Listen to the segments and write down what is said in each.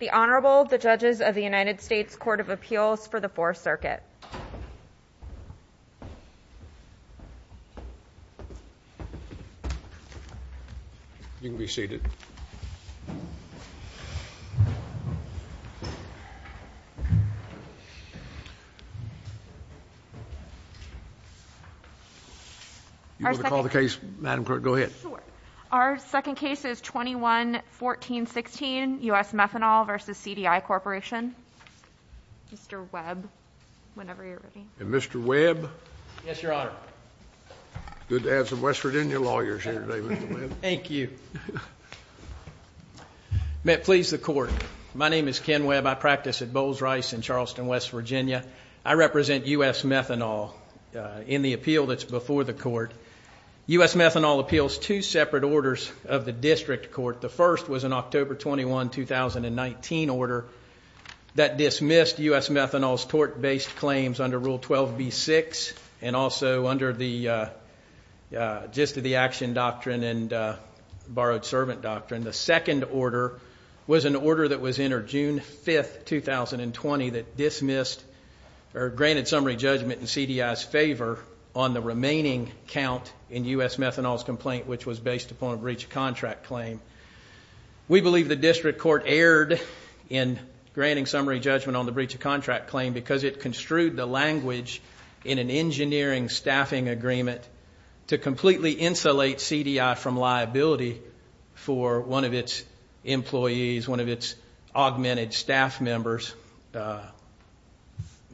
The Honorable the Judges of the United States Court of Appeals for the 4th Circuit. You can be seated. Our second case is 21-14-16, U.S. Methanol v. CDI Corporation. Mr. Webb, whenever you're ready. Mr. Webb. Yes, Your Honor. Good to have some West Virginia lawyers here today, Mr. Webb. Thank you. May it please the Court, my name is Ken Webb. I practice at Bowles Rice in Charleston, West Virginia. I represent U.S. Methanol in the appeal that's before the Court. U.S. Methanol appeals two separate orders of the District Court. The first was an October 21, 2019 order that dismissed U.S. Methanol's tort-based claims under Rule 12b-6 and also under the Action Doctrine and Borrowed Servant Doctrine. The second order was an order that was entered June 5, 2020 that dismissed or granted summary judgment in CDI's favor on the remaining count in U.S. Methanol's complaint, which was based upon a breach of contract claim. We believe the District Court erred in granting summary judgment on the breach of contract claim because it construed the language in an engineering staffing agreement to completely insulate CDI from liability for one of its employees, one of its augmented staff members'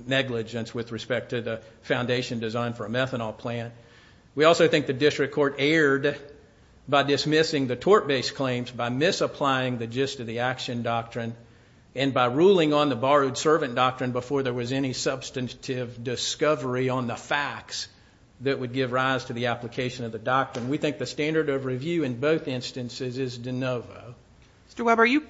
negligence with respect to the foundation design for a methanol plant. We also think the District Court erred by dismissing the tort-based claims by misapplying the gist of the Action Doctrine and by ruling on the Borrowed Servant Doctrine before there was any substantive discovery on the facts that would give rise to the application of the doctrine. We think the standard of review in both instances is de novo. Mr. Weber, do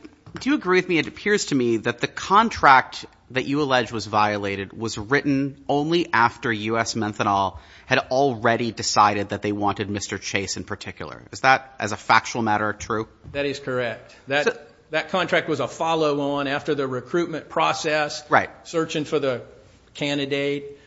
you agree with me, it appears to me, that the contract that you allege was violated was written only after U.S. Methanol had already decided that they wanted Mr. Chase in particular. Is that, as a factual matter, true? That is correct. That contract was a follow-on after the recruitment process, searching for the candidate,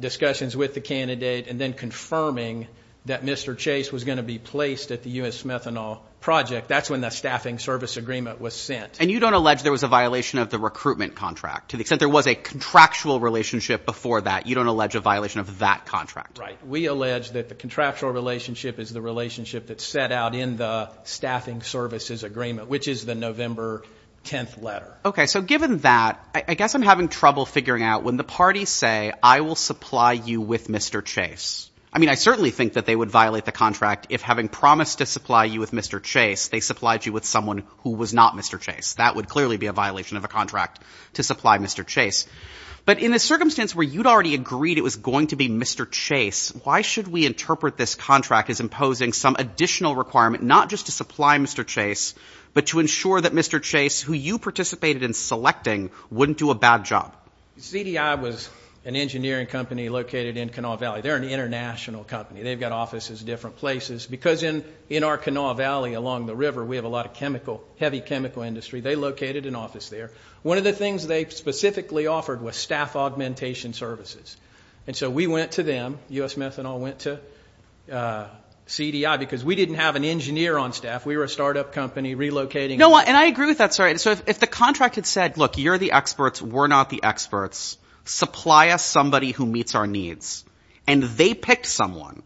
discussions with the candidate, and then confirming that Mr. Chase was going to be placed at the U.S. Methanol project. That's when the staffing service agreement was sent. And you don't allege there was a violation of the recruitment contract? To the extent there was a contractual relationship before that, you don't allege a violation of that contract? We allege that the contractual relationship is the relationship that's set out in the staffing services agreement, which is the November 10th letter. Okay, so given that, I guess I'm having trouble figuring out when the parties say, I will supply you with Mr. Chase. I mean, I certainly think that they would violate the contract if, having promised to supply you with Mr. Chase, they supplied you with someone who was not Mr. Chase. That would clearly be a violation of a contract to supply Mr. Chase. But in a circumstance where you'd already agreed it was going to be Mr. Chase, why should we interpret this contract as imposing some additional requirement, not just to supply Mr. Chase, but to ensure that Mr. Chase, who you participated in selecting, wouldn't do a bad job? CDI was an engineering company located in Kanawha Valley. They're an international company. They've got offices in different places. Because in our Kanawha Valley, along the river, we have a lot of chemical, heavy chemical industry. They located an office there. One of the things they specifically offered was staff augmentation services. And so we went to them, U.S. Methanol went to CDI, because we didn't have an engineer on staff. We were a startup company relocating. No, and I agree with that. So if the contract had said, look, you're the experts, we're not the experts. Supply us somebody who meets our needs. And they picked someone.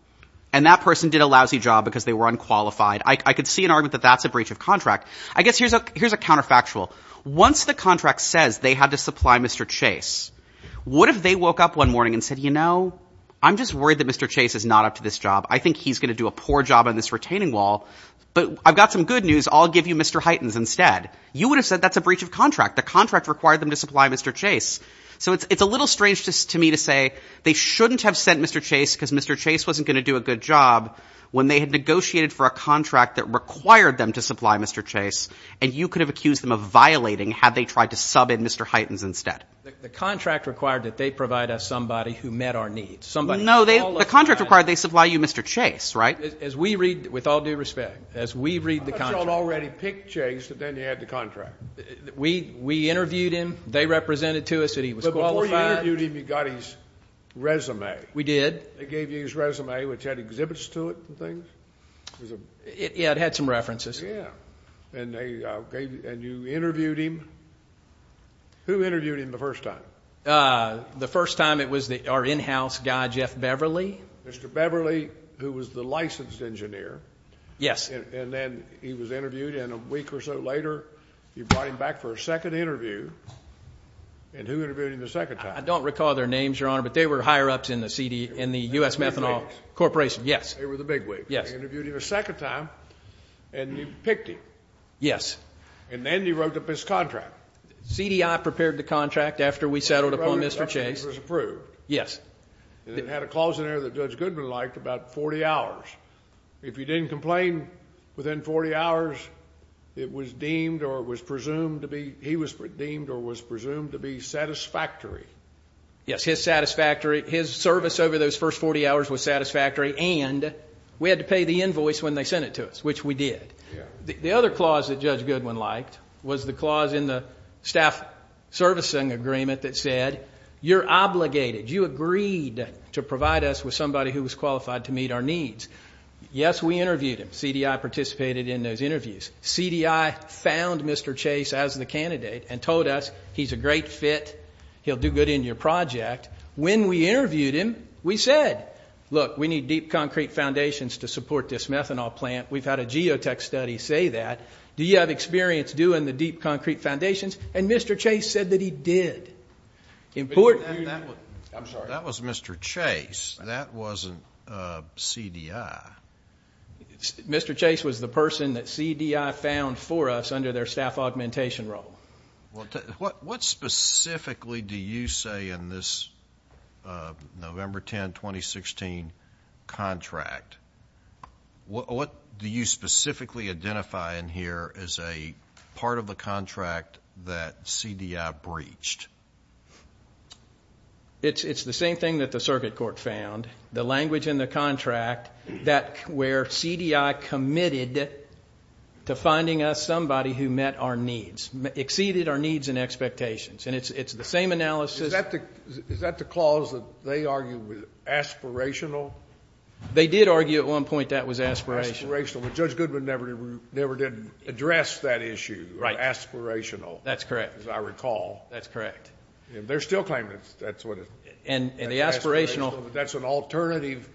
And that person did a lousy job because they were unqualified. I could see an argument that that's a breach of contract. I guess here's a counterfactual. Once the contract says they had to supply Mr. Chase, what if they woke up one morning and said, you know, I'm just worried that Mr. Chase is not up to this job. I think he's going to do a poor job on this retaining wall. But I've got some good news. I'll give you Mr. Heightens instead. You would have said that's a breach of contract. The contract required them to supply Mr. Chase. So it's a little strange to me to say they shouldn't have sent Mr. Chase because Mr. Chase wasn't going to do a good job when they had negotiated for a contract that required them to supply Mr. Chase. And you could have accused them of violating had they tried to sub in Mr. Heightens instead. The contract required that they provide us somebody who met our needs. Somebody who was qualified. No, the contract required they supply you Mr. Chase, right? As we read, with all due respect, as we read the contract. I thought y'all already picked Chase, but then you had the contract. We interviewed him. They represented to us that he was qualified. But before you interviewed him, you got his resume. We did. They gave you his resume, which had exhibits to it and things? Yeah, it had some references. Yeah. And you interviewed him. Who interviewed him the first time? The first time it was our in-house guy, Jeff Beverly. Mr. Beverly, who was the licensed engineer. Yes. And then he was interviewed and a week or so later, you brought him back for a second interview. And who interviewed him the second time? I don't recall their names, Your Honor, but they were higher ups in the U.S. Methanol Corporation. Yes. They were the bigwigs. Yes. They interviewed him a second time and you picked him. Yes. And then you wrote up his contract. CDI prepared the contract after we settled upon Mr. Chase. It was approved. Yes. And it had a clause in there that Judge Goodman liked, about 40 hours. If you didn't complain within 40 hours, it was deemed or was presumed to be, he was deemed or was presumed to be satisfactory. Yes, his satisfactory, his service over those first 40 hours was satisfactory and we had to pay the invoice when they sent it to us, which we did. The other clause that Judge Goodman liked was the clause in the staff servicing agreement that said, you're obligated, you agreed to provide us with somebody who was qualified to meet our needs. Yes, we interviewed him. CDI participated in those interviews. CDI found Mr. Chase as the candidate and told us, he's a great fit. He'll do good in your project. When we interviewed him, we said, look, we need deep concrete foundations to support this methanol plant. We've had a geotech study say that. Do you have experience doing the deep concrete foundations? And Mr. Chase said that he did. That was Mr. Chase. That wasn't CDI. Mr. Chase was the person that CDI found for us under their staff augmentation role. What specifically do you say in this November 10, 2016 contract? What do you specifically identify in here as a part of the contract that CDI breached? It's the same thing that the circuit court found. The language in the contract where CDI committed to finding us somebody who met our needs, exceeded our needs and expectations. And it's the same analysis. Is that the clause that they argue was aspirational? They did argue at one point that was aspirational. But Judge Goodman never did address that issue, aspirational. That's correct. As I recall. That's correct. They're still claiming that's what it is. And the aspirational. That's an alternative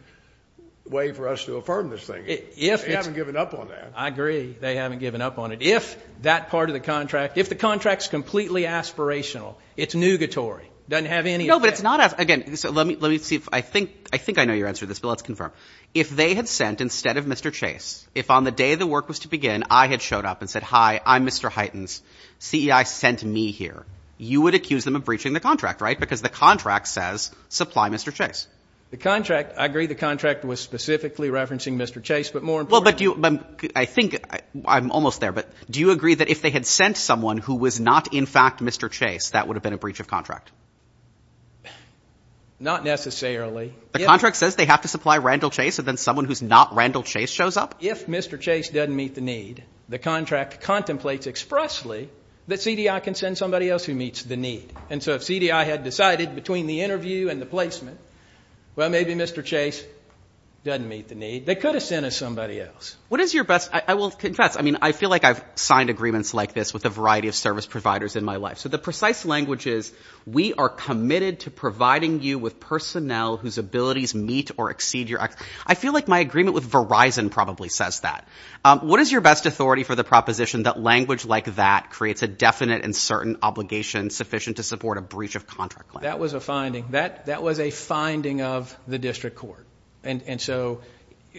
way for us to affirm this thing. They haven't given up on that. I agree. They haven't given up on it. If that part of the contract, if the contract's completely aspirational, it's nugatory, doesn't have any effect. No, but it's not. Again, let me see. I think I know your answer to this, but let's confirm. If they had sent instead of Mr. Chase, if on the day the work was to begin I had showed up and said, hi, I'm Mr. Heightens, CDI sent me here, you would accuse them of breaching the contract, right? Because the contract says supply Mr. Chase. The contract, I agree the contract was specifically referencing Mr. Chase, but more importantly. I think I'm almost there, but do you agree that if they had sent someone who was not in fact Mr. Chase, that would have been a breach of contract? Not necessarily. The contract says they have to supply Randall Chase, and then someone who's not Randall Chase shows up? If Mr. Chase doesn't meet the need, the contract contemplates expressly that CDI can send somebody else who meets the need. And so if CDI had decided between the interview and the placement, well, maybe Mr. Chase doesn't meet the need. They could have sent us somebody else. What is your best? I will confess, I mean, I feel like I've signed agreements like this with a variety of service providers in my life. So the precise language is we are committed to providing you with personnel whose abilities meet or exceed your. I feel like my agreement with Verizon probably says that. What is your best authority for the proposition that language like that creates a definite and certain obligation sufficient to support a breach of contract claim? That was a finding. That was a finding of the district court. And so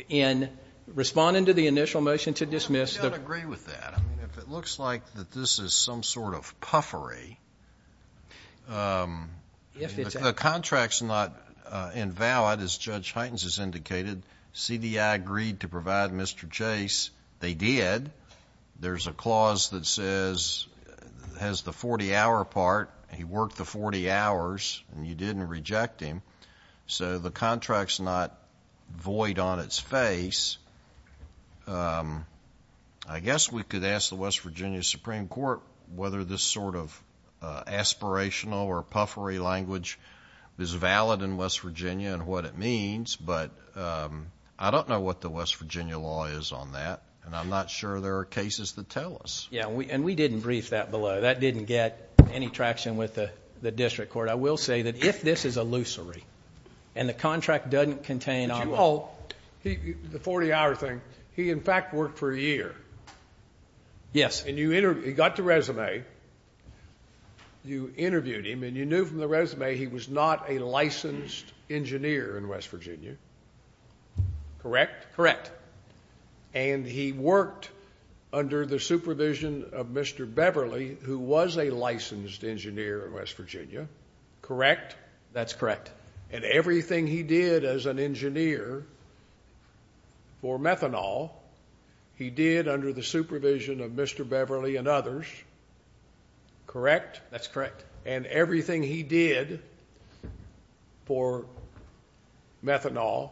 in responding to the initial motion to dismiss the... I don't agree with that. I mean, if it looks like that this is some sort of puffery... If it's... The contract's not invalid, as Judge Huytens has indicated. CDI agreed to provide Mr. Chase. They did. There's a clause that says, has the 40-hour part. He worked the 40 hours, and you didn't reject him. So the contract's not void on its face. I guess we could ask the West Virginia Supreme Court whether this sort of aspirational or puffery language is valid in West Virginia and what it means, but I don't know what the West Virginia law is on that, and I'm not sure there are cases that tell us. Yeah, and we didn't brief that below. That didn't get any traction with the district court. I will say that if this is illusory and the contract doesn't contain... The 40-hour thing. He, in fact, worked for a year. Yes. He got the resume. You interviewed him, and you knew from the resume he was not a licensed engineer in West Virginia. Correct? Correct. And he worked under the supervision of Mr. Beverly, who was a licensed engineer in West Virginia. Correct? That's correct. And everything he did as an engineer for methanol, he did under the supervision of Mr. Beverly and others. Correct? That's correct. And everything he did for methanol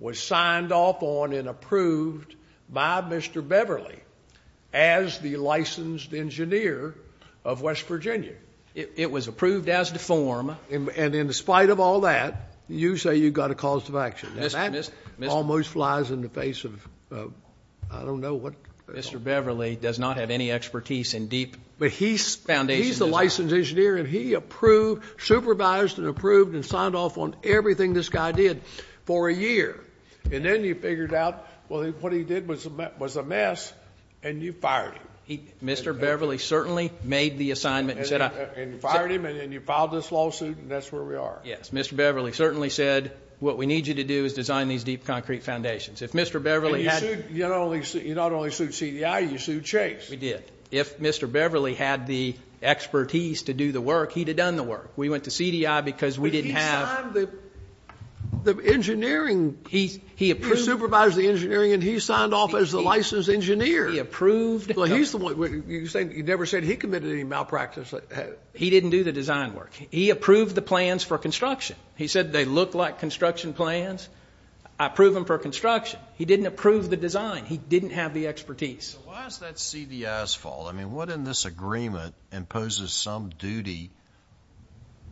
was signed off on and approved by Mr. Beverly as the licensed engineer of West Virginia. It was approved as deformed. And in spite of all that, you say you got a cause of action. And that almost flies in the face of I don't know what... Mr. Beverly does not have any expertise in deep foundation design. But he's the licensed engineer, and he approved, supervised and approved and signed off on everything this guy did for a year. And then you figured out, well, what he did was a mess, and you fired him. Mr. Beverly certainly made the assignment and said... And you fired him, and then you filed this lawsuit, and that's where we are. Yes. Mr. Beverly certainly said, what we need you to do is design these deep concrete foundations. If Mr. Beverly had... You not only sued CDI, you sued Chase. We did. If Mr. Beverly had the expertise to do the work, he'd have done the work. We went to CDI because we didn't have... But he signed the engineering... He approved... He supervised the engineering, and he signed off as the licensed engineer. He approved... Well, he's the one... You never said he committed any malpractice. He didn't do the design work. He approved the plans for construction. He said they looked like construction plans. I approve them for construction. He didn't approve the design. He didn't have the expertise. So why is that CDI's fault? Well, I mean, what in this agreement imposes some duty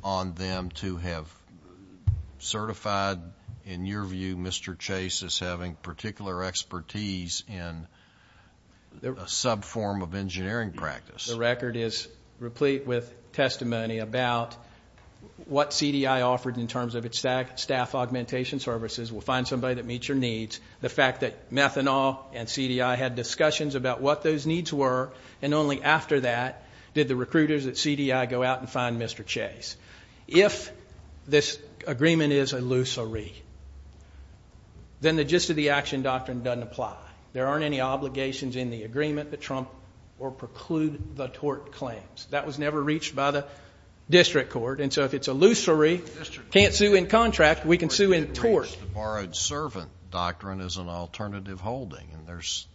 on them to have certified, in your view, Mr. Chase as having particular expertise in a subform of engineering practice? The record is replete with testimony about what CDI offered in terms of its staff augmentation services. We'll find somebody that meets your needs. The fact that Methanol and CDI had discussions about what those needs were, and only after that did the recruiters at CDI go out and find Mr. Chase. If this agreement is illusory, then the gist of the action doctrine doesn't apply. There aren't any obligations in the agreement that trump or preclude the tort claims. That was never reached by the district court. And so if it's illusory, can't sue in contract, we can sue in tort. The Borrowed Servant Doctrine is an alternative holding, and there's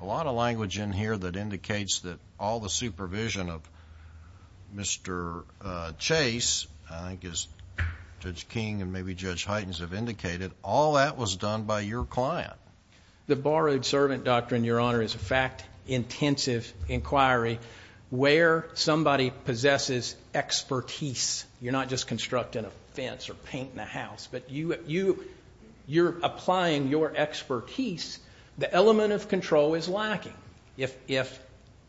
a lot of language in here that indicates that all the supervision of Mr. Chase, I think as Judge King and maybe Judge Heitens have indicated, all that was done by your client. The Borrowed Servant Doctrine, Your Honor, is a fact-intensive inquiry where somebody possesses expertise. You're not just constructing a fence or painting a house. But you're applying your expertise. The element of control is lacking. If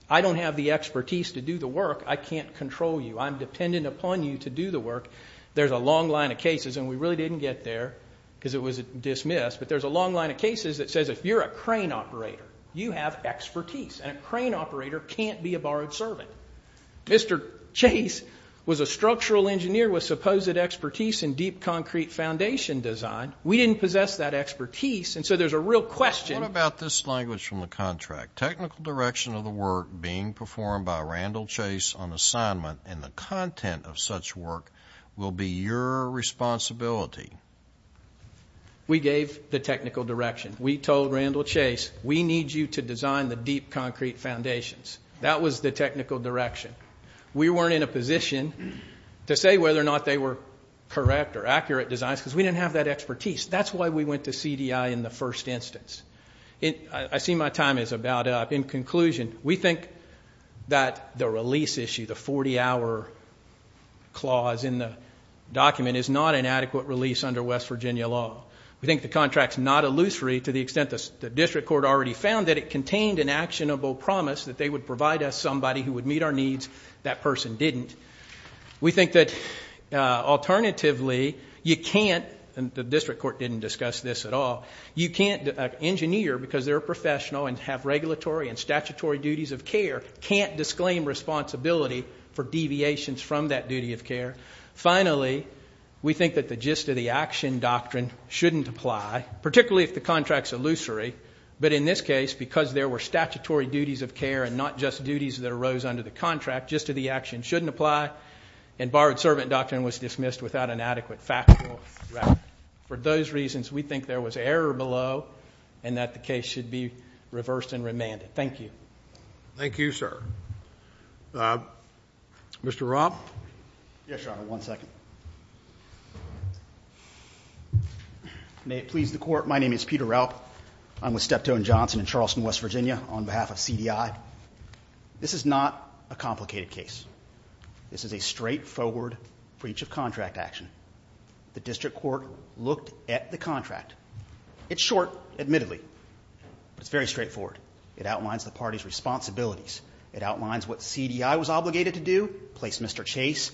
I don't have the expertise to do the work, I can't control you. I'm dependent upon you to do the work. There's a long line of cases, and we really didn't get there because it was dismissed, but there's a long line of cases that says if you're a crane operator, you have expertise, and a crane operator can't be a borrowed servant. Mr. Chase was a structural engineer with supposed expertise in deep concrete foundation design. We didn't possess that expertise, and so there's a real question. What about this language from the contract? Technical direction of the work being performed by Randall Chase on assignment and the content of such work will be your responsibility. We gave the technical direction. We told Randall Chase, we need you to design the deep concrete foundations. That was the technical direction. We weren't in a position to say whether or not they were correct or accurate designs because we didn't have that expertise. That's why we went to CDI in the first instance. I see my time is about up. In conclusion, we think that the release issue, the 40-hour clause in the document, is not an adequate release under West Virginia law. We think the contract is not illusory to the extent the district court already found that it contained an actionable promise that they would provide us somebody who would meet our needs. That person didn't. We think that alternatively you can't, and the district court didn't discuss this at all, you can't engineer because they're a professional and have regulatory and statutory duties of care, can't disclaim responsibility for deviations from that duty of care. Finally, we think that the gist of the action doctrine shouldn't apply, particularly if the contract is illusory. But in this case, because there were statutory duties of care and not just duties that arose under the contract, gist of the action shouldn't apply, and borrowed servant doctrine was dismissed without an adequate factual record. For those reasons, we think there was error below and that the case should be reversed and remanded. Thank you. Thank you, sir. Mr. Robb? Yes, Your Honor, one second. May it please the Court, my name is Peter Robb. I'm with Steptoe & Johnson in Charleston, West Virginia, on behalf of CDI. This is not a complicated case. This is a straightforward breach of contract action. The district court looked at the contract. It's short, admittedly, but it's very straightforward. It outlines the party's responsibilities. It outlines what CDI was obligated to do, place Mr. Chase,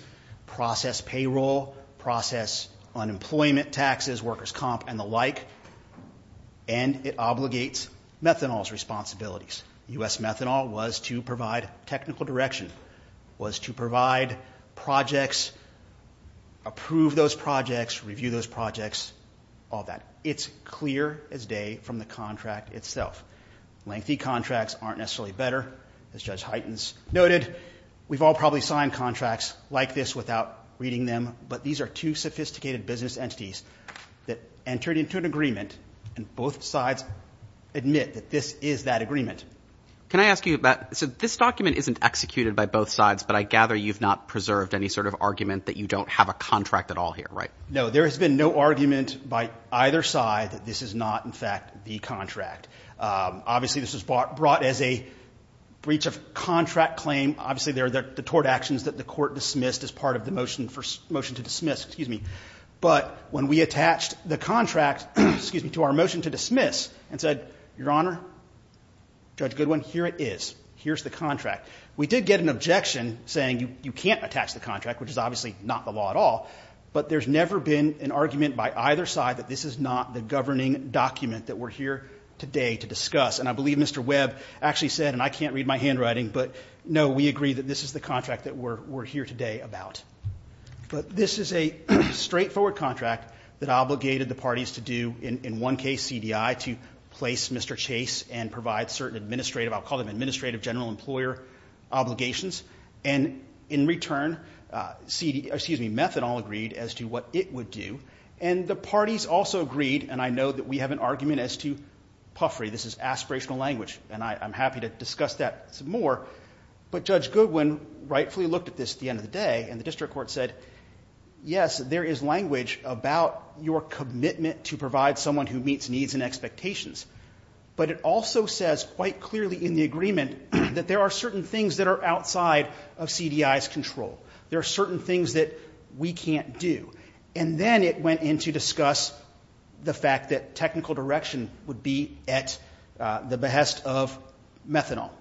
process payroll, process unemployment, taxes, workers' comp, and the like, and it obligates methanol's responsibilities. U.S. methanol was to provide technical direction, was to provide projects, approve those projects, review those projects, all that. It's clear as day from the contract itself. Lengthy contracts aren't necessarily better. As Judge Heitens noted, we've all probably signed contracts like this without reading them, but these are two sophisticated business entities that entered into an agreement, and both sides admit that this is that agreement. Can I ask you about this? This document isn't executed by both sides, but I gather you've not preserved any sort of argument that you don't have a contract at all here, right? No, there has been no argument by either side that this is not, in fact, the contract. Obviously, this was brought as a breach of contract claim. Obviously, there are the tort actions that the court dismissed as part of the motion to dismiss, but when we attached the contract to our motion to dismiss and said, Your Honor, Judge Goodwin, here it is, here's the contract, we did get an objection saying you can't attach the contract, which is obviously not the law at all, but there's never been an argument by either side that this is not the governing document that we're here today to discuss, and I believe Mr. Webb actually said, and I can't read my handwriting, but no, we agree that this is the contract that we're here today about. But this is a straightforward contract that obligated the parties to do, in one case, CDI, to place Mr. Chase and provide certain administrative, I'll call them administrative general employer obligations, and in return, excuse me, Methadone agreed as to what it would do, and the parties also agreed, and I know that we have an argument as to puffery. This is aspirational language, and I'm happy to discuss that some more, but Judge Goodwin rightfully looked at this at the end of the day, and the district court said, Yes, there is language about your commitment to provide someone who meets needs and expectations, but it also says quite clearly in the agreement that there are certain things that are outside of CDI's control. There are certain things that we can't do. And then it went in to discuss the fact that technical direction would be at the behest of Methadone,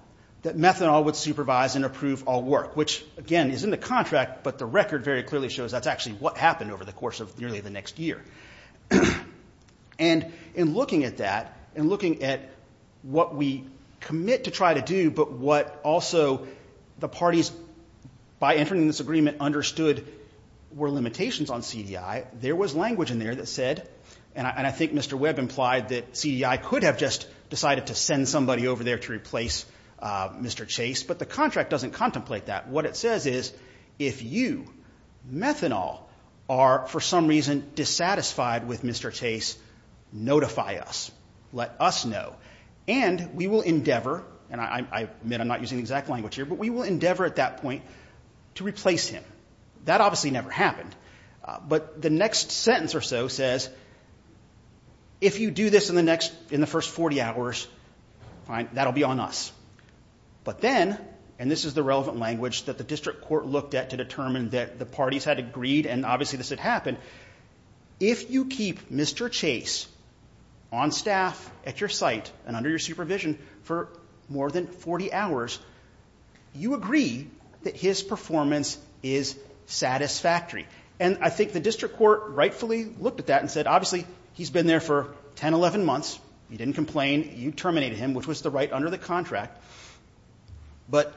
that Methadone would supervise and approve all work, which, again, is in the contract, but the record very clearly shows that's actually what happened over the course of nearly the next year. And in looking at that, in looking at what we commit to try to do, but what also the parties, by entering this agreement, understood were limitations on CDI, there was language in there that said, and I think Mr. Webb implied that CDI could have just decided to send somebody over there to replace Mr. Chase, but the contract doesn't contemplate that. What it says is, if you, Methanol, are for some reason dissatisfied with Mr. Chase, notify us. Let us know. And we will endeavor, and I admit I'm not using the exact language here, but we will endeavor at that point to replace him. That obviously never happened. But the next sentence or so says, if you do this in the first 40 hours, that will be on us. But then, and this is the relevant language that the district court looked at to determine that the parties had agreed and obviously this had happened, if you keep Mr. Chase on staff at your site and under your supervision for more than 40 hours, you agree that his performance is satisfactory. And I think the district court rightfully looked at that and said, obviously he's been there for 10, 11 months, he didn't complain, you terminated him, which was the right under the contract, but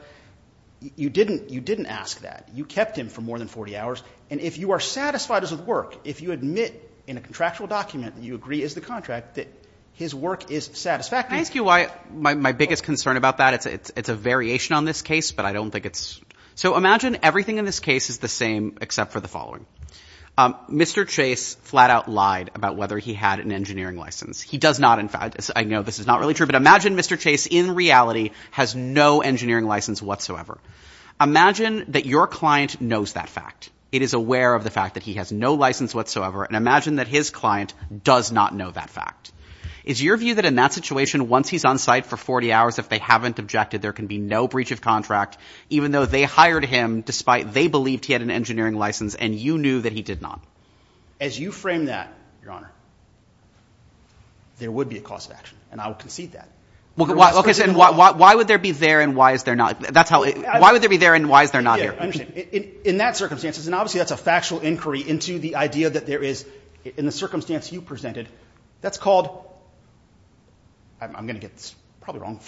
you didn't ask that. You kept him for more than 40 hours. And if you are satisfied as of work, if you admit in a contractual document that you agree as the contract that his work is satisfactory. I ask you why my biggest concern about that, it's a variation on this case, but I don't think it's... So imagine everything in this case is the same except for the following. Mr. Chase flat out lied about whether he had an engineering license. He does not, in fact... I know this is not really true, but imagine Mr. Chase in reality has no engineering license whatsoever. Imagine that your client knows that fact. It is aware of the fact that he has no license whatsoever and imagine that his client does not know that fact. Is your view that in that situation, once he's on site for 40 hours, if they haven't objected, there can be no breach of contract, even though they hired him despite they believed he had an engineering license and you knew that he did not? As you frame that, Your Honor, there would be a cause of action and I will concede that. Okay, so why would there be there and why is there not? Why would there be there and why is there not here? Yeah, I understand. In that circumstance, and obviously that's a factual inquiry into the idea that there is, in the circumstance you presented, that's called, I'm going to get this probably wrong,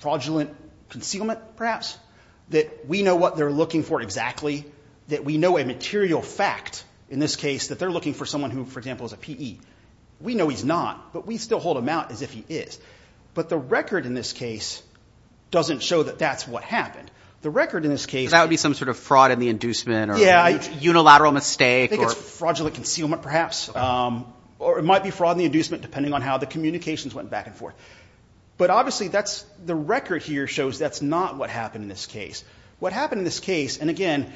fraudulent concealment perhaps, that we know what they're looking for exactly, that we know a material fact, in this case, that they're looking for someone who, for example, is a PE. We know he's not, but we still hold him out as if he is. But the record in this case doesn't show that that's what happened. The record in this case… That would be some sort of fraud in the inducement or unilateral mistake. I think it's fraudulent concealment perhaps, or it might be fraud in the inducement depending on how the communications went back and forth. But obviously the record here shows that's not what happened in this case. What happened in this case, and again,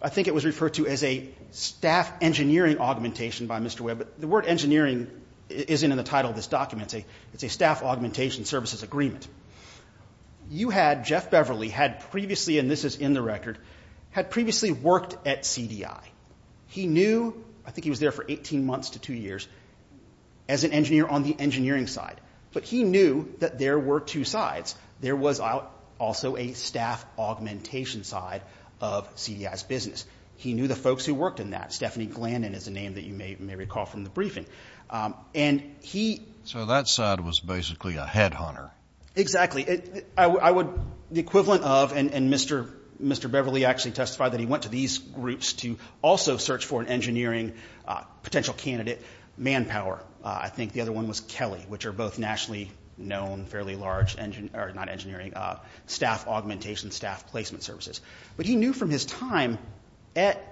I think it was referred to as a staff engineering augmentation by Mr. Webb. The word engineering isn't in the title of this document. It's a staff augmentation services agreement. You had, Jeff Beverly, had previously, and this is in the record, had previously worked at CDI. He knew, I think he was there for 18 months to two years, as an engineer on the engineering side. But he knew that there were two sides. There was also a staff augmentation side of CDI's business. He knew the folks who worked in that. Stephanie Glandon is a name that you may recall from the briefing. And he… So that side was basically a headhunter. Exactly. I would, the equivalent of, and Mr. Beverly actually testified that he went to these groups to also search for an engineering potential candidate, manpower. I think the other one was Kelly, which are both nationally known, fairly large engineering, not engineering, staff augmentation, staff placement services. But he knew from his time at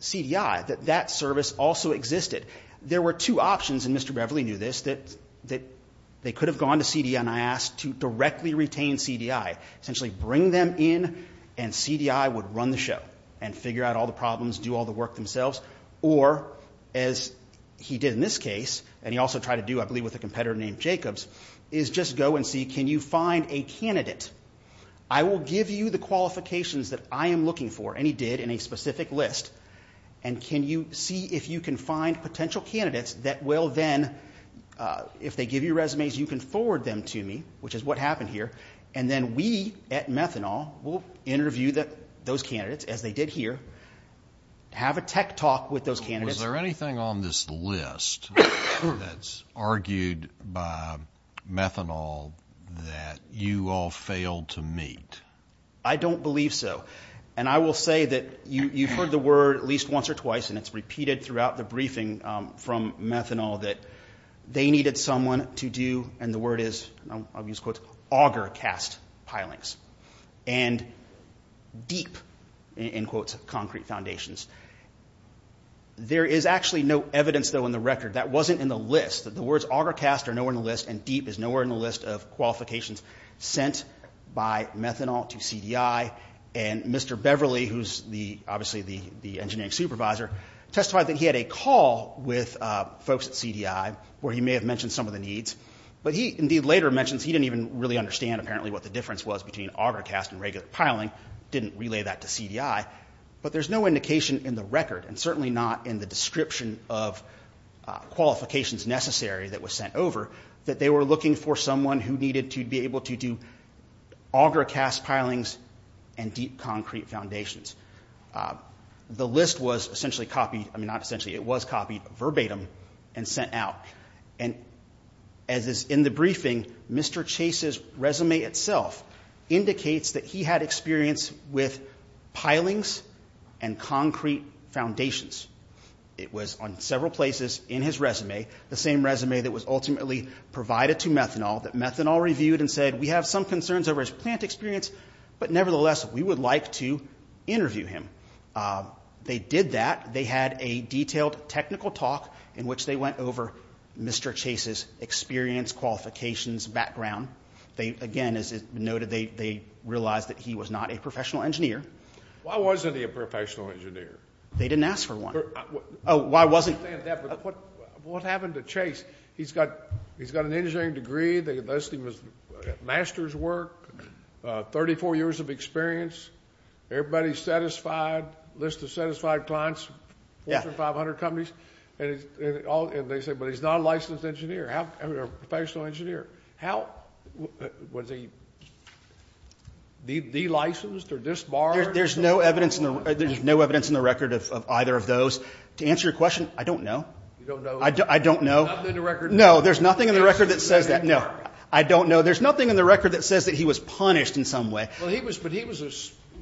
CDI that that service also existed. There were two options, and Mr. Beverly knew this, that they could have gone to CDI and asked to directly retain CDI. Essentially bring them in and CDI would run the show and figure out all the problems, do all the work themselves. Or, as he did in this case, and he also tried to do, I believe, with a competitor named Jacobs, is just go and see, can you find a candidate? I will give you the qualifications that I am looking for, and he did in a specific list, and can you see if you can find potential candidates that will then, if they give you resumes, you can forward them to me, which is what happened here, and then we at Methanol will interview those candidates, as they did here, have a tech talk with those candidates. Is there anything on this list that's argued by Methanol that you all failed to meet? I don't believe so. And I will say that you've heard the word at least once or twice, and it's repeated throughout the briefing from Methanol, that they needed someone to do, and the word is, I'll use quotes, auger cast pilings, and deep, in quotes, concrete foundations. There is actually no evidence, though, in the record, that wasn't in the list, that the words auger cast are nowhere in the list, and deep is nowhere in the list of qualifications sent by Methanol to CDI, and Mr. Beverly, who's obviously the engineering supervisor, testified that he had a call with folks at CDI, where he may have mentioned some of the needs, but he later mentions he didn't even really understand, apparently, what the difference was between auger cast and regular piling, didn't relay that to CDI, but there's no indication in the record, and certainly not in the description of qualifications necessary that was sent over, that they were looking for someone who needed to be able to do auger cast pilings and deep concrete foundations. The list was essentially copied, I mean, not essentially, it was copied verbatim, and sent out. As is in the briefing, Mr. Chase's resume itself indicates that he had experience with pilings and concrete foundations. It was on several places in his resume, the same resume that was ultimately provided to Methanol, that Methanol reviewed and said, we have some concerns over his plant experience, but nevertheless, we would like to interview him. They did that. They had a detailed technical talk in which they went over Mr. Chase's experience, qualifications, background. Again, as noted, they realized that he was not a professional engineer. Why wasn't he a professional engineer? They didn't ask for one. Oh, why wasn't he? What happened to Chase? He's got an engineering degree, they list him as master's work, 34 years of experience, everybody's satisfied, list of satisfied clients, more than 500 companies, and they say, but he's not a licensed engineer, a professional engineer. How, was he delicensed or disbarred? There's no evidence in the record of either of those. To answer your question, I don't know. You don't know. I don't know. Nothing in the record. No, there's nothing in the record that says that. No, I don't know. There's nothing in the record that says that he was punished in some way. But he was a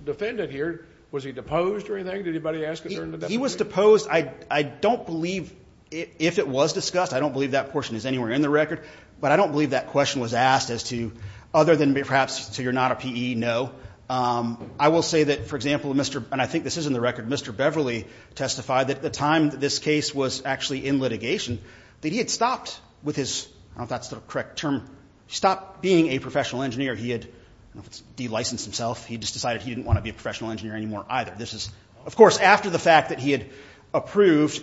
defendant here. Was he deposed or anything? Did anybody ask a question? He was deposed. I don't believe, if it was discussed, I don't believe that portion is anywhere in the record, but I don't believe that question was asked as to, other than perhaps, so you're not a PE, no. I will say that, for example, and I think this is in the record, Mr. Beverly testified that at the time that this case was actually in litigation, that he had stopped with his, I don't know if that's the correct term, stopped being a professional engineer. He had, I don't know if it's de-licensed himself, he just decided he didn't want to be a professional engineer anymore either. This is, of course, after the fact that he had approved,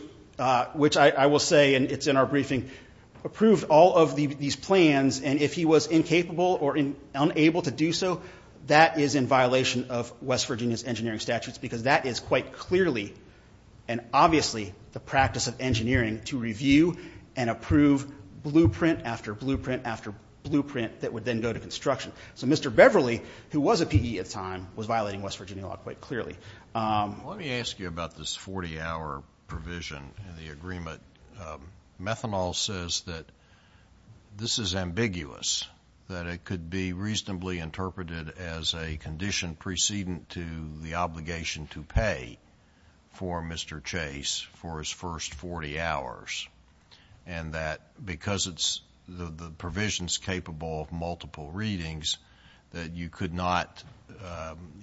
which I will say, and it's in our briefing, approved all of these plans, and if he was incapable or unable to do so, that is in violation of West Virginia's engineering statutes because that is quite clearly and obviously the practice of engineering to review and approve blueprint after blueprint after blueprint that would then go to construction. So Mr. Beverly, who was a PE at the time, was violating West Virginia law quite clearly. Let me ask you about this 40-hour provision in the agreement. Methanol says that this is ambiguous, that it could be reasonably interpreted as a condition precedent to the obligation to pay for Mr. Chase for his first 40 hours, and that because the provision is capable of multiple readings, that you could not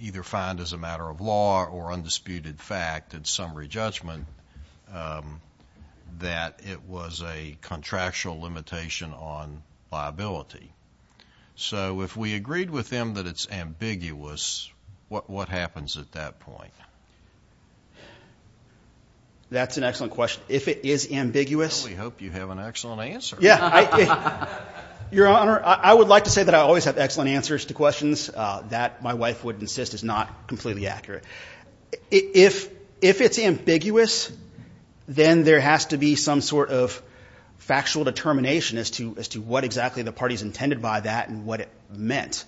either find as a matter of law or undisputed fact in summary judgment that it was a contractual limitation on liability. So if we agreed with them that it's ambiguous, what happens at that point? That's an excellent question. If it is ambiguous— Well, we hope you have an excellent answer. Your Honor, I would like to say that I always have excellent answers to questions. That, my wife would insist, is not completely accurate. If it's ambiguous, then there has to be some sort of factual determination as to what exactly the parties intended by that and what it meant.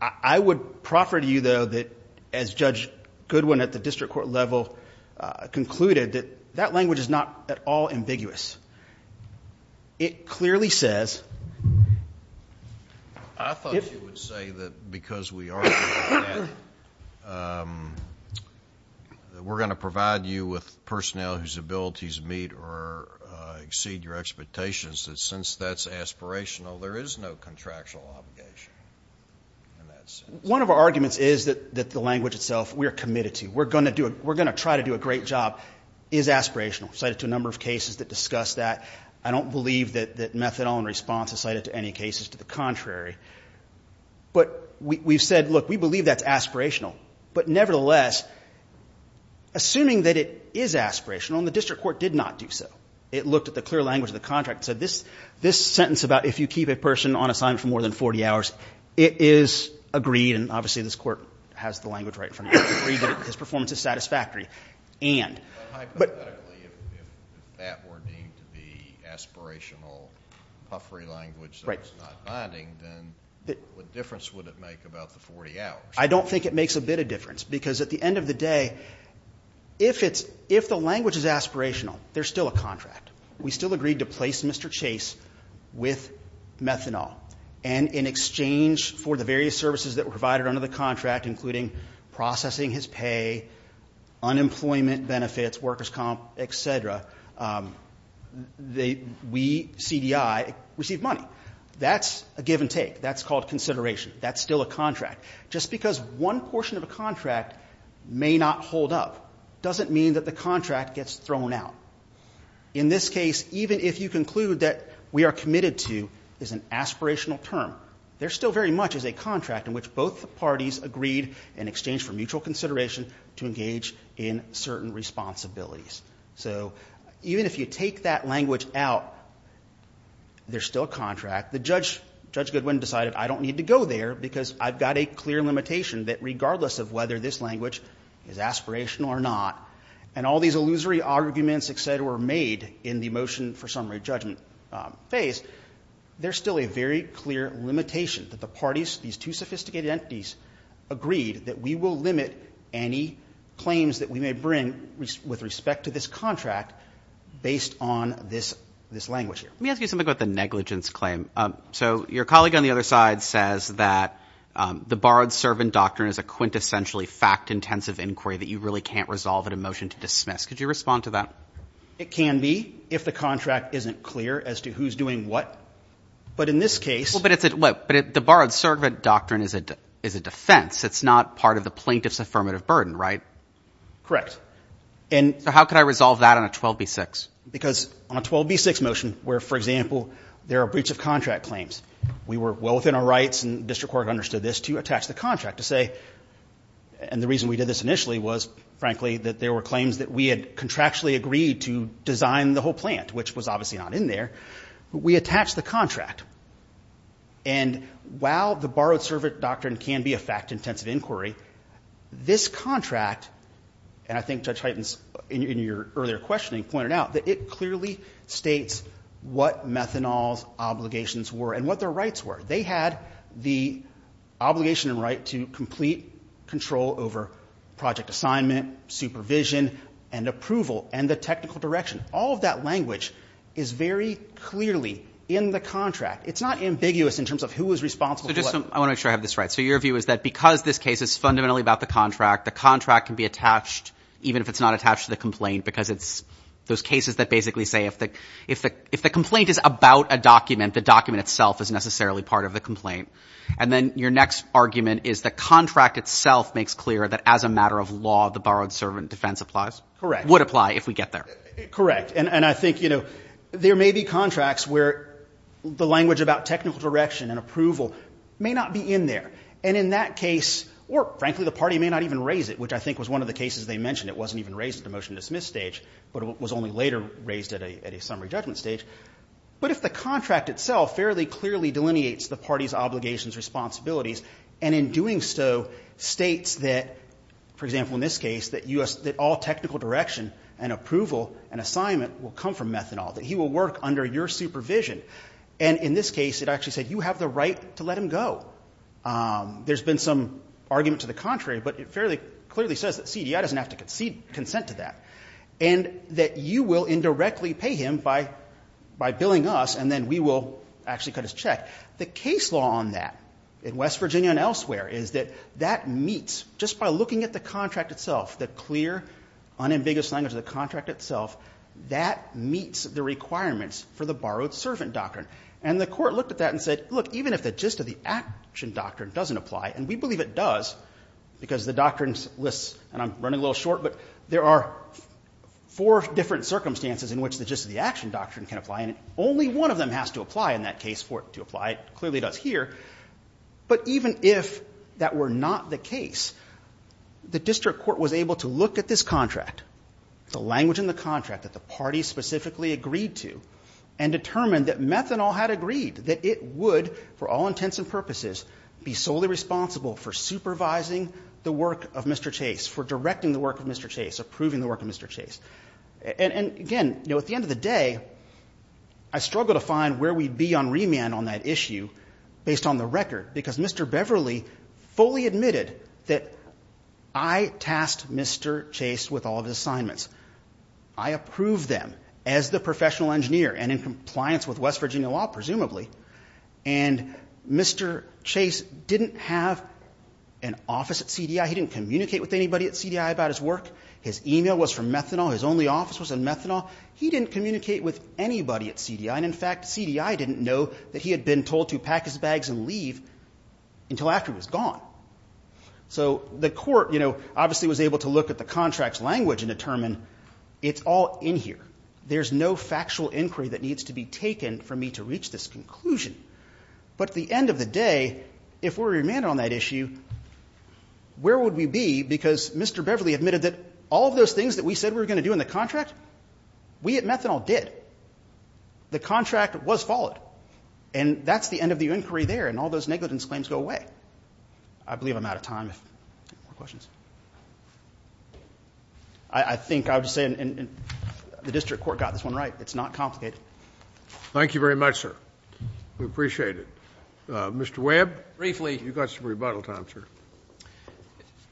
I would proffer to you, though, that, as Judge Goodwin at the district court level concluded, that that language is not at all ambiguous. It clearly says— I thought you would say that because we are going to provide you with personnel whose abilities meet or exceed your expectations, that since that's aspirational, there is no contractual obligation in that sense. One of our arguments is that the language itself we are committed to. We're going to do a — we're going to try to do a great job, is aspirational. We've cited to a number of cases that discuss that. I don't believe that methadone response is cited to any cases to the contrary. But we've said, look, we believe that's aspirational. But nevertheless, assuming that it is aspirational, and the district court did not do so, it looked at the clear language of the contract and said this sentence about if you keep a person on assignment for more than 40 hours, it is agreed, and obviously this court has the language right in front of it, agreed that his performance is satisfactory, and— But hypothetically, if that were deemed the aspirational puffery language that was not binding, then what difference would it make about the 40 hours? I don't think it makes a bit of difference, because at the end of the day, if it's — if the language is aspirational, there's still a contract. We still agreed to place Mr. Chase with methanol. And in exchange for the various services that were provided under the contract, including processing his pay, unemployment benefits, workers' comp, et cetera, we, CDI, receive money. That's a give and take. That's called consideration. That's still a contract. Just because one portion of a contract may not hold up doesn't mean that the contract gets thrown out. In this case, even if you conclude that we are committed to is an aspirational term, there's still very much as a contract in which both parties agreed in exchange for mutual consideration to engage in certain responsibilities. So even if you take that language out, there's still a contract. The judge, Judge Goodwin, decided I don't need to go there because I've got a clear limitation that regardless of whether this language is aspirational or not, and all these illusory arguments, et cetera, were made in the motion for summary judgment phase, there's still a very clear limitation that the parties, these two sophisticated entities, agreed that we will limit any claims that we may bring with respect to this contract based on this language here. Let me ask you something about the negligence claim. So your colleague on the other side says that the borrowed servant doctrine is a quintessentially fact-intensive inquiry that you really can't resolve in a motion to dismiss. Could you respond to that? It can be if the contract isn't clear as to who's doing what. But in this case – But the borrowed servant doctrine is a defense. It's not part of the plaintiff's affirmative burden, right? Correct. So how could I resolve that on a 12b-6? Because on a 12b-6 motion where, for example, there are breach of contract claims, we were well within our rights, and district court understood this, to attach the contract to say – and the reason we did this initially was, frankly, that there were claims that we had contractually agreed to design the whole plant, which was obviously not in there. We attached the contract. And while the borrowed servant doctrine can be a fact-intensive inquiry, this contract – and I think Judge Heitens, in your earlier questioning, pointed out that it clearly states what Methanol's obligations were and what their rights were. They had the obligation and right to complete control over project assignment, supervision, and approval, and the technical direction. All of that language is very clearly in the contract. It's not ambiguous in terms of who was responsible for what. I want to make sure I have this right. So your view is that because this case is fundamentally about the contract, the contract can be attached, even if it's not attached to the complaint, because it's those cases that basically say if the complaint is about a document, the document itself is necessarily part of the complaint. And then your next argument is the contract itself makes clear that as a matter of law, the borrowed servant defense applies? Correct. Would apply if we get there. Correct. And I think, you know, there may be contracts where the language about technical direction and approval may not be in there. And in that case – or, frankly, the party may not even raise it, which I think was one of the cases they mentioned. It wasn't even raised at the motion to dismiss stage, but it was only later raised at a summary judgment stage. But if the contract itself fairly clearly delineates the party's obligations, responsibilities, and in doing so states that, for example, in this case, that all technical direction and approval and assignment will come from Methanol, that he will work under your supervision. And in this case, it actually said you have the right to let him go. There's been some argument to the contrary, but it fairly clearly says that CDI doesn't have to concede consent to that. And that you will indirectly pay him by billing us, and then we will actually cut his check. The case law on that in West Virginia and elsewhere is that that meets, just by looking at the contract itself, the clear, unambiguous language of the contract itself, that meets the requirements for the borrowed servant doctrine. And the Court looked at that and said, look, even if the gist of the action doctrine doesn't apply, and we believe it does, because the doctrine lists, and I'm running a little short, but there are four different circumstances in which the gist of the action doctrine can apply, and only one of them has to apply in that case for it to apply. It clearly does here. But even if that were not the case, the district court was able to look at this contract, the language in the contract that the party specifically agreed to, and determine that Methanol had agreed that it would, for all intents and purposes, be solely responsible for supervising the work of Mr. Chase, for directing the work of Mr. Chase, approving the work of Mr. Chase. And, again, you know, at the end of the day, I struggle to find where we'd be on remand on that issue, based on the record, because Mr. Beverly fully admitted that I tasked Mr. Chase with all of his assignments. I approved them, as the professional engineer, and in compliance with West Coast law. Mr. Chase didn't have an office at CDI. He didn't communicate with anybody at CDI about his work. His email was from Methanol. His only office was in Methanol. He didn't communicate with anybody at CDI. And, in fact, CDI didn't know that he had been told to pack his bags and leave until after he was gone. So the court, you know, obviously was able to look at the contract's language and determine it's all in here. There's no factual inquiry that needs to be taken for me to reach this conclusion. But at the end of the day, if we're remanded on that issue, where would we be? Because Mr. Beverly admitted that all of those things that we said we were going to do in the contract, we at Methanol did. The contract was followed. And that's the end of the inquiry there, and all those negligence claims go away. I believe I'm out of time. I have more questions. I think I would just say the district court got this one right. It's not complicated. Thank you very much, sir. We appreciate it. Mr. Webb? Briefly. You've got some rebuttal time, sir.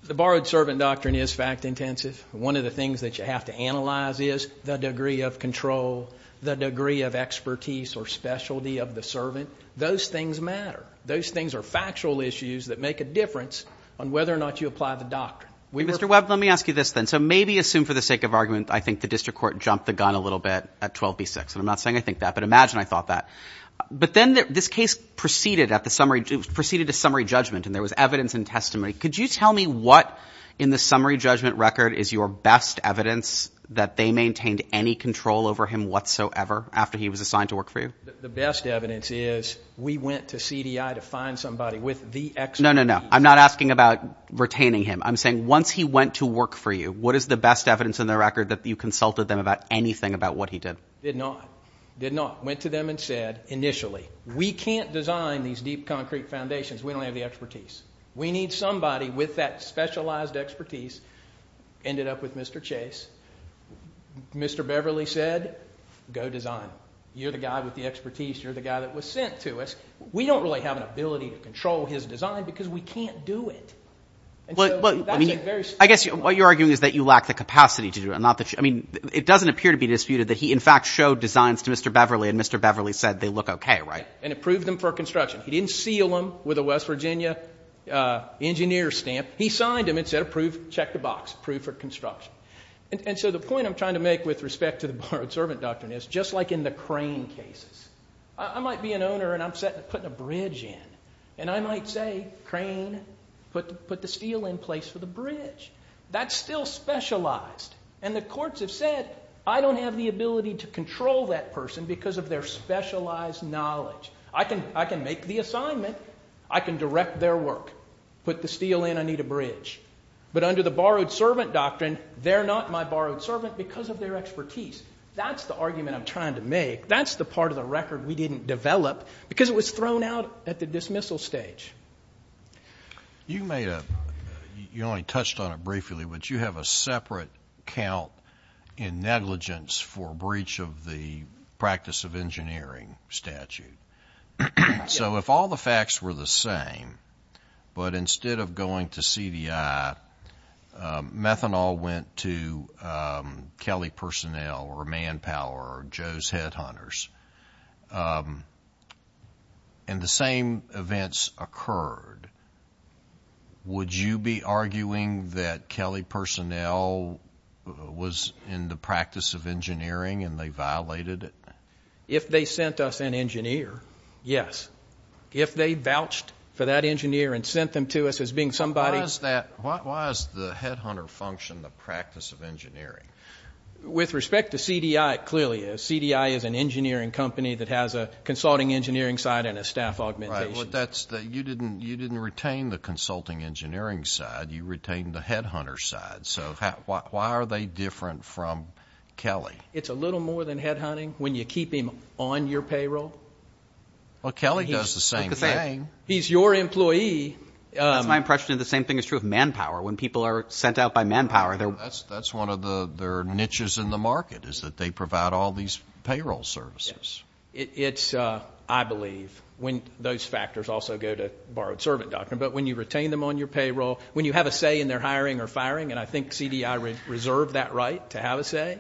The borrowed servant doctrine is fact-intensive. One of the things that you have to analyze is the degree of control, the degree of expertise or specialty of the servant. Those things matter. Those things are factual issues that make a difference on whether or not you apply the doctrine. Mr. Webb, let me ask you this then. So maybe assume for the sake of argument, I think the district court jumped the question. I'm not saying I think that, but imagine I thought that. But then this case proceeded at the summary judgment, and there was evidence and testimony. Could you tell me what in the summary judgment record is your best evidence that they maintained any control over him whatsoever after he was assigned to work for you? The best evidence is we went to CDI to find somebody with the expertise. No, no, no. I'm not asking about retaining him. I'm saying once he went to work for you, what is the best evidence in the record that you consulted them about anything about what he did? Did not. Did not. Went to them and said initially, we can't design these deep concrete foundations. We don't have the expertise. We need somebody with that specialized expertise. Ended up with Mr. Chase. Mr. Beverly said, go design. You're the guy with the expertise. You're the guy that was sent to us. We don't really have an ability to control his design because we can't do it. I guess what you're arguing is that you lack the capacity to do it. I mean, it doesn't appear to be disputed that he, in fact, showed designs to Mr. Beverly and Mr. Beverly said they look okay, right? And approved them for construction. He didn't seal them with a West Virginia engineer stamp. He signed them and said approve, check the box, approve for construction. And so the point I'm trying to make with respect to the borrowed servant doctrine is just like in the crane cases. I might be an owner and I'm putting a bridge in. And I might say crane, put the steel in place for the bridge. That's still specialized. And the courts have said I don't have the ability to control that person because of their specialized knowledge. I can make the assignment. I can direct their work. Put the steel in. I need a bridge. But under the borrowed servant doctrine, they're not my borrowed servant because of their expertise. That's the argument I'm trying to make. That's the part of the record we didn't develop because it was thrown out at the dismissal stage. You only touched on it briefly, but you have a separate count in negligence for breach of the practice of engineering statute. So if all the facts were the same, but instead of going to CDI, methanol went to Kelly Personnel or Manpower or Joe's Headhunters. And the same events occurred, would you be arguing that Kelly Personnel was in the practice of engineering and they violated it? If they sent us an engineer, yes. If they vouched for that engineer and sent them to us as being somebody. Why is the headhunter function the practice of engineering? With respect to CDI, it clearly is. CDI is an engineering company that has a consulting engineering side and a staff augmentation. You didn't retain the consulting engineering side. You retained the headhunter side. So why are they different from Kelly? It's a little more than headhunting when you keep him on your payroll. Well, Kelly does the same thing. He's your employee. That's my impression of the same thing is true of Manpower. When people are sent out by Manpower. That's one of their niches in the market, is that they provide all these payroll services. It's, I believe, when those factors also go to borrowed servant doctrine. But when you retain them on your payroll, when you have a say in their hiring or firing, and I think CDI reserved that right to have a say,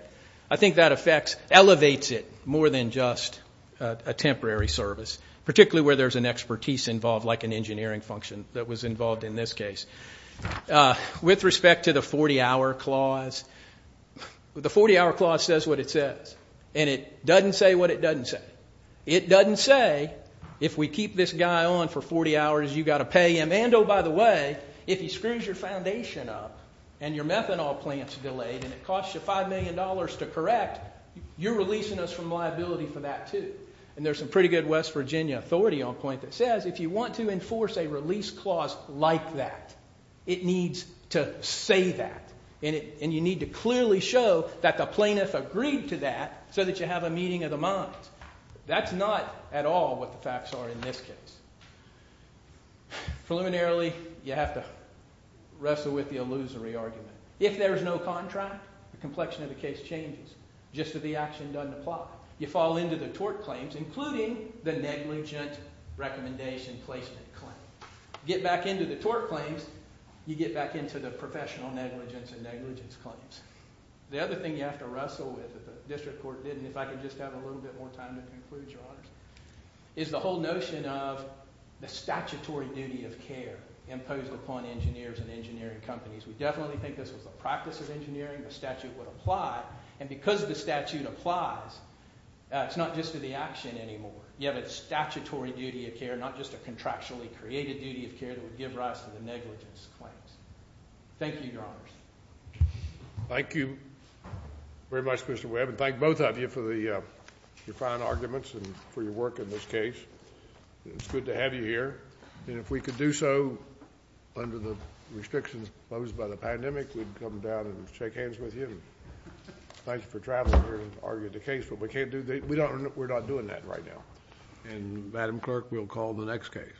I think that elevates it more than just a temporary service, particularly where there's an expertise involved like an engineering function that was involved in this case. With respect to the 40-hour clause, the 40-hour clause says what it says. And it doesn't say what it doesn't say. It doesn't say if we keep this guy on for 40 hours, you've got to pay him. And, oh, by the way, if he screws your foundation up and your methanol plant's delayed and it costs you $5 million to correct, you're releasing us from liability for that, too. And there's some pretty good West Virginia authority on point that says if you want to enforce a release clause like that, it needs to say that. And you need to clearly show that the plaintiff agreed to that so that you have a meeting of the minds. That's not at all what the facts are in this case. Preliminarily, you have to wrestle with the illusory argument. If there's no contract, the complexion of the case changes just that the action doesn't apply. You fall into the tort claims, including the negligent recommendation placement claim. Get back into the tort claims, you get back into the professional negligence and negligence claims. The other thing you have to wrestle with, that the district court did, and if I could just have a little bit more time to conclude, Your Honors, is the whole notion of the statutory duty of care imposed upon engineers and engineering companies. We definitely think this was the practice of engineering, the statute would apply, and because the statute applies, it's not just to the action anymore. You have a statutory duty of care, not just a contractually created duty of care that would give rise to the negligence claims. Thank you, Your Honors. Thank you very much, Mr. Webb, and thank both of you for your fine arguments and for your work in this case. It's good to have you here, and if we could do so under the restrictions imposed by the pandemic, we'd come down and shake hands with you. Thank you for traveling here and arguing the case, but we're not doing that right now. And Madam Clerk, we'll call the next case.